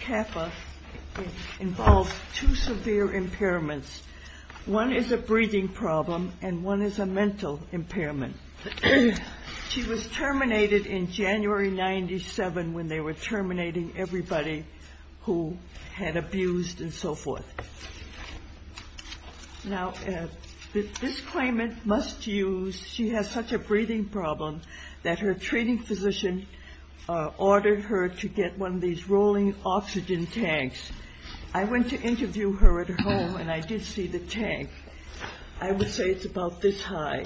Cappa involves two severe impairments. One is a breathing problem and one is a mental impairment. She was terminated in January 1997 when they were terminating everybody who had abused and so forth. Now this claimant must use, she has such a breathing problem that her treating physician ordered her to get one of these rolling oxygen tanks. I went to interview her at home and I did see the tank. I would say it's about this high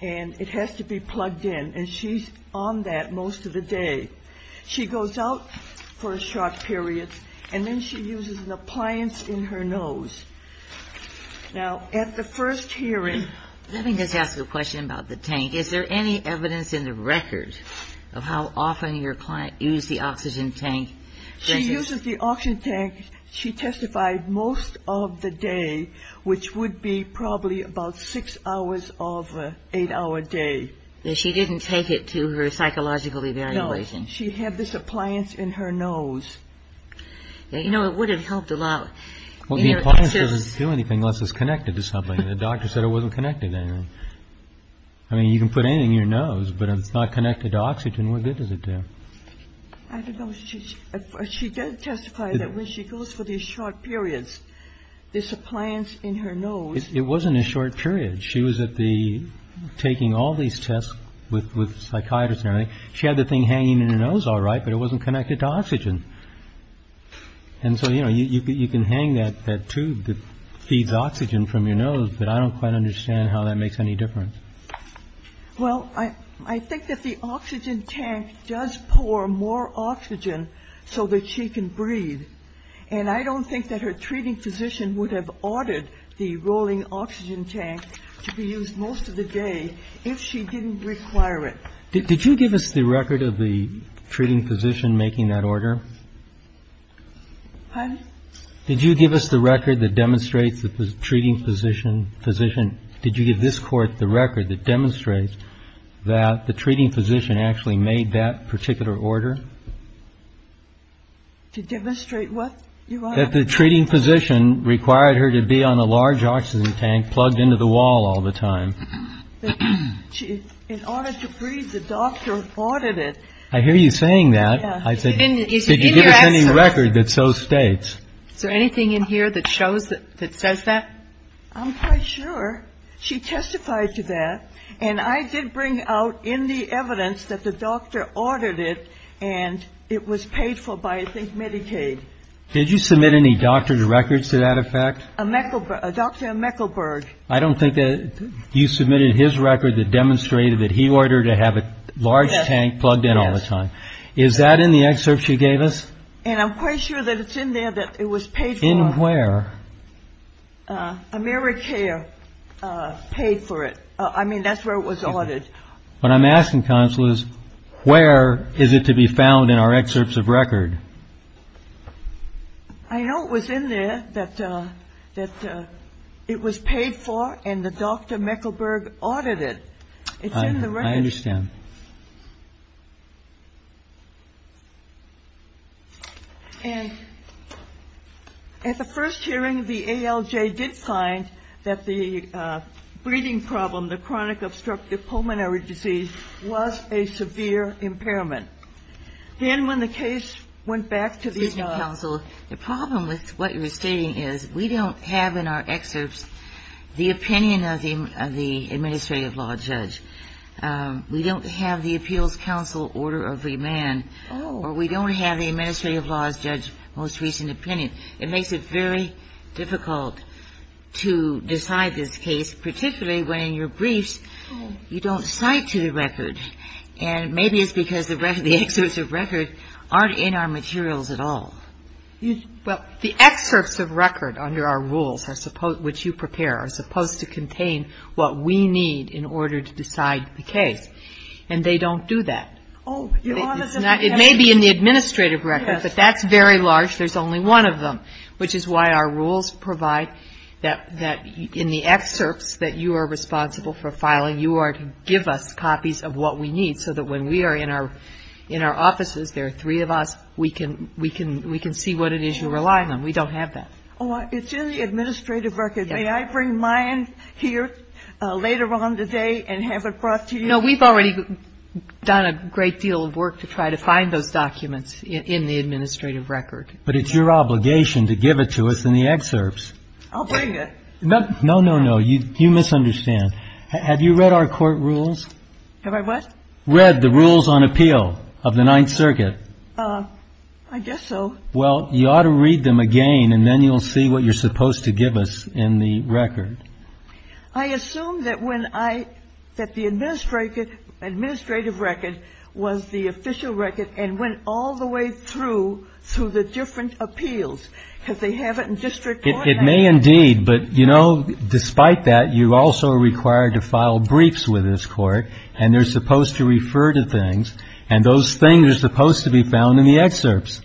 and it has to be plugged in and she's on that most of the day. She goes out for a short period and then she uses an appliance in her nose. Now at the first hearing... Let me just ask a question about the tank. Is there any evidence in the record of how often your client used the oxygen tank? She uses the oxygen tank, she testified, most of the day, which would be probably about six hours of an eight hour day. She didn't take it to her psychological evaluation? No. She had this appliance in her nose. You know, it would have helped a lot. Well, the appliance doesn't do anything unless it's connected to something. The doctor said it wasn't connected to anything. I mean, you can put anything in your nose, but if it's not connected to oxygen, what good does it do? I don't know. She did testify that when she goes for these short periods, this appliance in her nose... It wasn't a short period. She was taking all these tests with psychiatrists and everything. She had the thing hanging in her nose all right, but it wasn't connected to oxygen. And so, you know, you can hang that tube that feeds oxygen from your nose, but I don't quite understand how that makes any difference. Well, I think that the oxygen tank does pour more oxygen so that she can breathe. And I don't think that her treating physician would have ordered the rolling oxygen tank to be used most of the day if she didn't require it. Did you give us the record of the treating physician making that order? Pardon? Did you give us the record that demonstrates the treating physician? Did you give this court the record that demonstrates that the treating physician actually made that particular order? To demonstrate what? That the treating physician required her to be on a large oxygen tank plugged into the wall all the time. In order to breathe, the doctor ordered it. I hear you saying that. I said, did you give us any record that so states? Is there anything in here that shows that, that says that? I'm quite sure she testified to that. And I did bring out in the evidence that the doctor ordered it and it was paid for by, I think, Medicaid. Did you submit any doctor's records to that effect? Dr. Mekelberg. I don't think that you submitted his record that demonstrated that he ordered to have a large tank plugged in all the time. Is that in the excerpt she gave us? And I'm quite sure that it's in there that it was paid for. Found where? AmeriCare paid for it. I mean, that's where it was ordered. What I'm asking, counsel, is where is it to be found in our excerpts of record? I know it was in there that it was paid for and the doctor Mekelberg ordered it. It's in the record. I understand. And at the first hearing, the ALJ did find that the breathing problem, the chronic obstructive pulmonary disease, was a severe impairment. Then when the case went back to the regional counsel, the problem with what you're stating is we don't have in our excerpts the opinion of the administrative law judge. We don't have the appeals counsel order of remand, or we don't have the administrative law judge's most recent opinion. It makes it very difficult to decide this case, particularly when in your briefs you don't cite to the record. And maybe it's because the records, the excerpts of record aren't in our materials at all. Well, the excerpts of record under our rules, which you prepare, are supposed to contain what we need in order to decide the case. And they don't do that. It may be in the administrative record, but that's very large. There's only one of them, which is why our rules provide that in the excerpts that you are responsible for filing, you are to give us copies of what we need so that when we are in our offices, there are three of us, we can see what it is you rely on. We don't have that. It's in the administrative record. May I bring mine here later on today and have it brought to you? No, we've already done a great deal of work to try to find those documents in the administrative record. But it's your obligation to give it to us in the excerpts. I'll bring it. No, no, no, no. You misunderstand. Have you read our court rules? Have I what? Read the rules on appeal of the Ninth Circuit. I guess so. Well, you ought to read them again, and then you'll see what you're supposed to give us in the record. I assume that when I – that the administrative record was the official record and went all the way through through the different appeals, because they have it in district court. It may indeed. But, you know, despite that, you also are required to file briefs with this court, and they're supposed to refer to things, and those things are supposed to be found in the excerpts.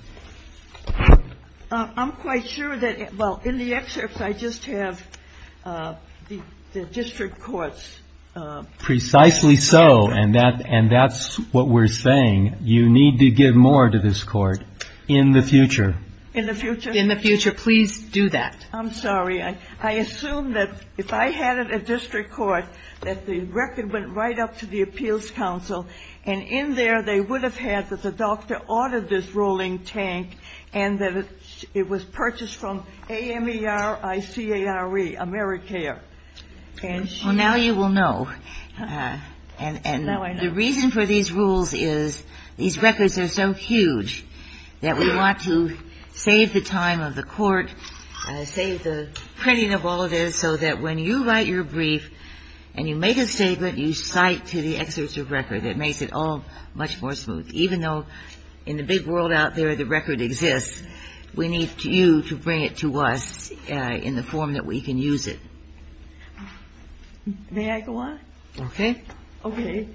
I'm quite sure that – well, in the excerpts, I just have the district courts. Precisely so, and that's what we're saying. You need to give more to this court in the future. In the future? In the future. Please do that. I'm sorry. I assume that if I had it at district court, that the record went right up to the appeals council, and in there they would have had that the doctor ordered this rolling tank, and that it was purchased from AMERICARE, A-M-E-R-I-C-A-R-E, Americare. Well, now you will know. And the reason for these rules is these records are so huge that we want to save the time of the court, save the printing of all of this, so that when you write your brief and you make a statement, you cite to the excerpts of record. It makes it all much more smooth. Even though in the big world out there, the record exists, we need you to bring it to us in the form that we can use it. May I go on? Okay. Okay.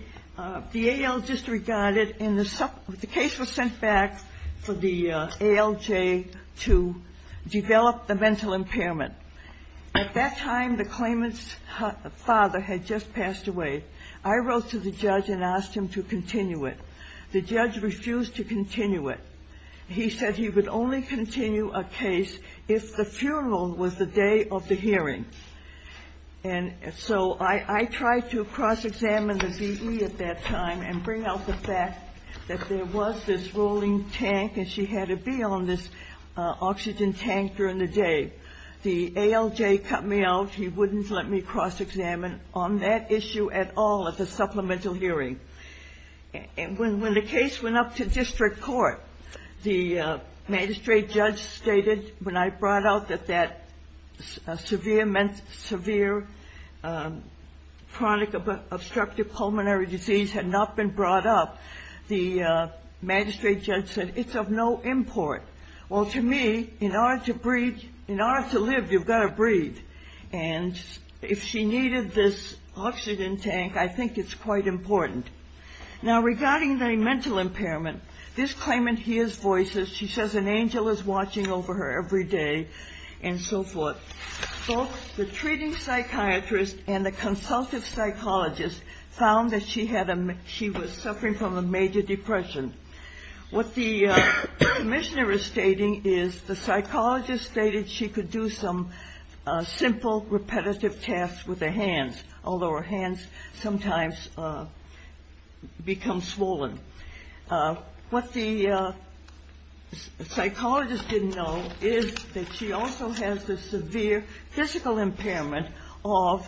The AL just regarded, and the case was sent back for the ALJ to develop the mental impairment. At that time, the claimant's father had just passed away. I wrote to the judge and asked him to continue it. The judge refused to continue it. He said he would only continue a case if the funeral was the day of the hearing. And so I tried to cross-examine the VE at that time and bring out the fact that there was this rolling tank and she had to be on this oxygen tank during the day. The ALJ cut me out. He wouldn't let me cross-examine on that issue at all at the supplemental hearing. And when the case went up to district court, the magistrate judge stated, when I brought out that that severe chronic obstructive pulmonary disease had not been brought up, the magistrate judge said it's of no import. Well, to me, in order to breathe, in order to live, you've got to breathe. And if she needed this oxygen tank, I think it's quite important. Now, regarding the mental impairment, this claimant hears voices. She says an angel is watching over her every day and so forth. Both the treating psychiatrist and the consultative psychologist found that she was suffering from a major depression. What the commissioner is stating is the psychologist stated she could do some simple repetitive tasks with her hands, although her hands sometimes become swollen. What the psychologist didn't know is that she also has a severe physical impairment of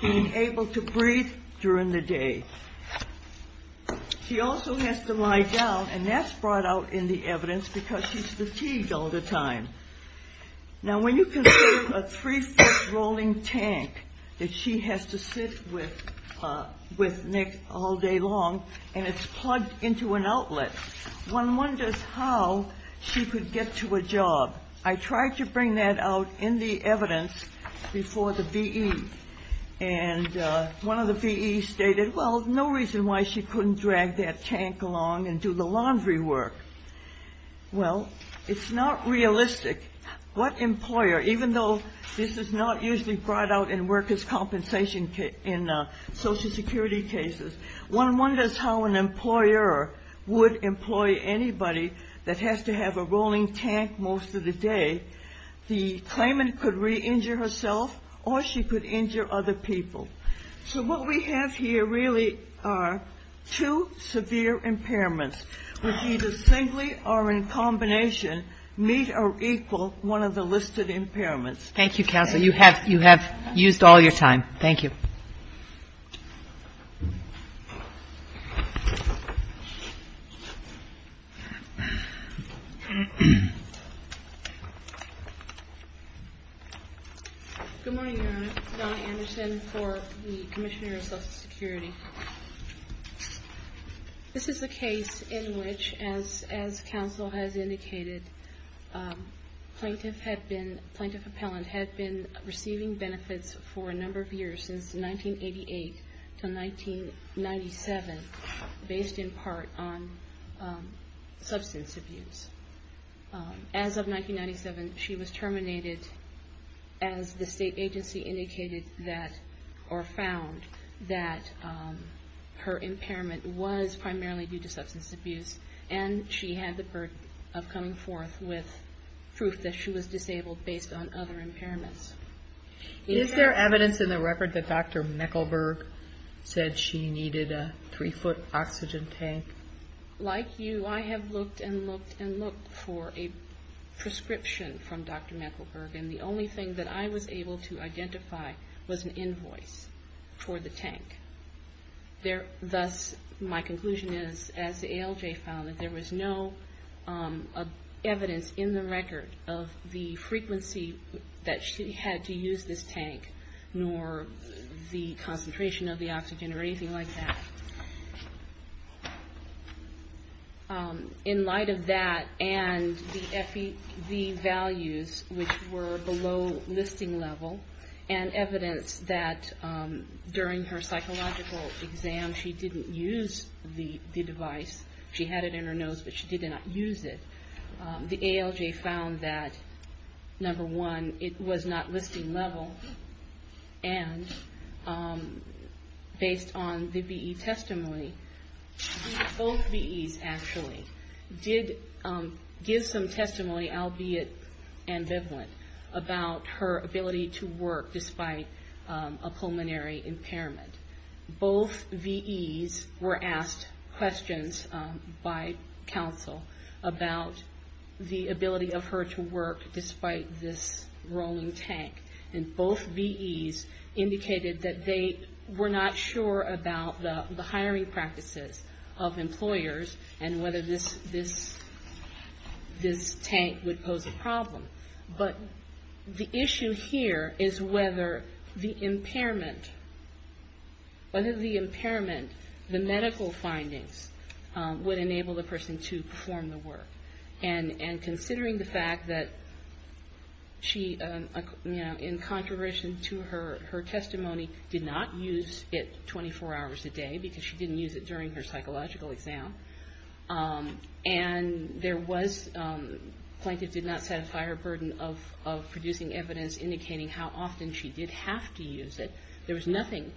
being able to breathe during the day. She also has to lie down, and that's brought out in the evidence because she's fatigued all the time. Now, when you consider a three-foot rolling tank that she has to sit with Nick all day long, and it's plugged into an outlet, one wonders how she could get to a job. I tried to bring that out in the evidence before the V.E., and one of the V.E.s stated, well, no reason why she couldn't drag that tank along and do the laundry work. Well, it's not realistic. What employer, even though this is not usually brought out in workers' compensation in Social Security cases, one wonders how an employer would employ anybody that has to have a rolling tank most of the day. The claimant could re-injure herself or she could injure other people. So what we have here really are two severe impairments which either simply are in combination, meet or equal one of the listed impairments. Thank you, Counsel. You have used all your time. Thank you. Good morning, Your Honor. Donna Anderson for the Commissioner of Social Security. This is a case in which, as Counsel has indicated, Plaintiff Appellant had been receiving benefits for a number of years, since 1988 to 1997, based in part on substance abuse. As of 1997, she was terminated as the state agency indicated that, or found that her impairment was primarily due to substance abuse, and she had the burden of coming forth with proof that she was disabled based on other impairments. Is there evidence in the record that Dr. Meckleberg said she needed a three-foot oxygen tank? Like you, I have looked and looked and looked for a prescription from Dr. Meckleberg, and the only thing that I was able to identify was an invoice for the tank. Thus, my conclusion is, as the ALJ found, that there was no evidence in the record of the frequency that she had to use this tank, nor the concentration of the oxygen or anything like that. In light of that and the FEV values, which were below listing level, and evidence that during her psychological exam she didn't use the device, she had it in her nose, but she did not use it, the ALJ found that, number one, it was not listing level, and based on the BE testimony, both BEs actually did give some testimony, albeit ambivalent, about her ability to work despite a pulmonary impairment. Both VEs were asked questions by counsel about the ability of her to work despite this rolling tank, and both VEs indicated that they were not sure about the hiring practices of employers and whether this tank would pose a problem. But the issue here is whether the impairment, the medical findings, would enable the person to perform the work. And considering the fact that she, in contrarian to her testimony, did not use it 24 hours a day because she didn't use it during her psychological exam, and there was, the plaintiff did not satisfy her burden of producing evidence indicating how often she did have to use it, there was nothing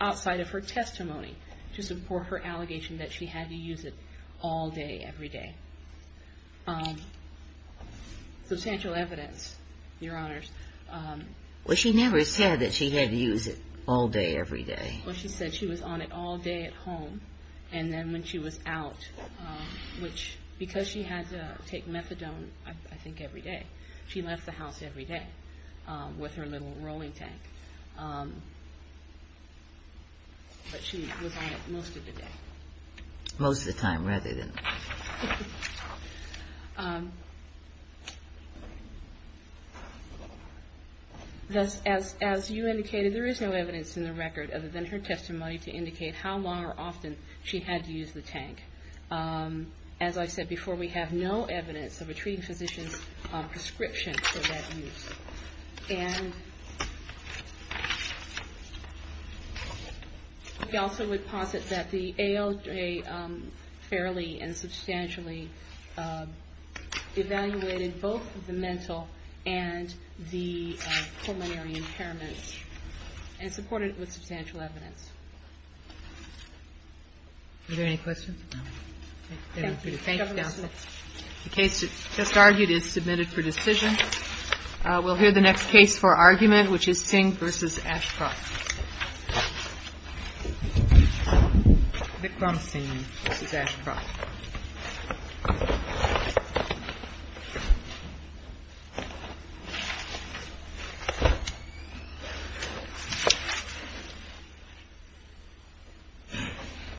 outside of her testimony to support her allegation that she had to use it all day, every day. Substantial evidence, Your Honors. Well, she never said that she had to use it all day, every day. Well, she said she was on it all day at home, and then when she was out, which because she had to take methadone, I think, every day, she left the house every day with her little rolling tank. But she was on it most of the day. Most of the time, rather than... As you indicated, there is no evidence in the record other than her testimony to indicate how long or often she had to use the tank. As I said before, we have no evidence of a treating physician's prescription for that use. And we also would posit that the ALJ fairly and substantially evaluated both the mental and the pulmonary impairments and supported it with substantial evidence. Are there any questions? Thank you, Counsel. The case just argued is submitted for decision. We'll hear the next case for argument, which is Singh v. Ashcroft. Vikram Singh v. Ashcroft.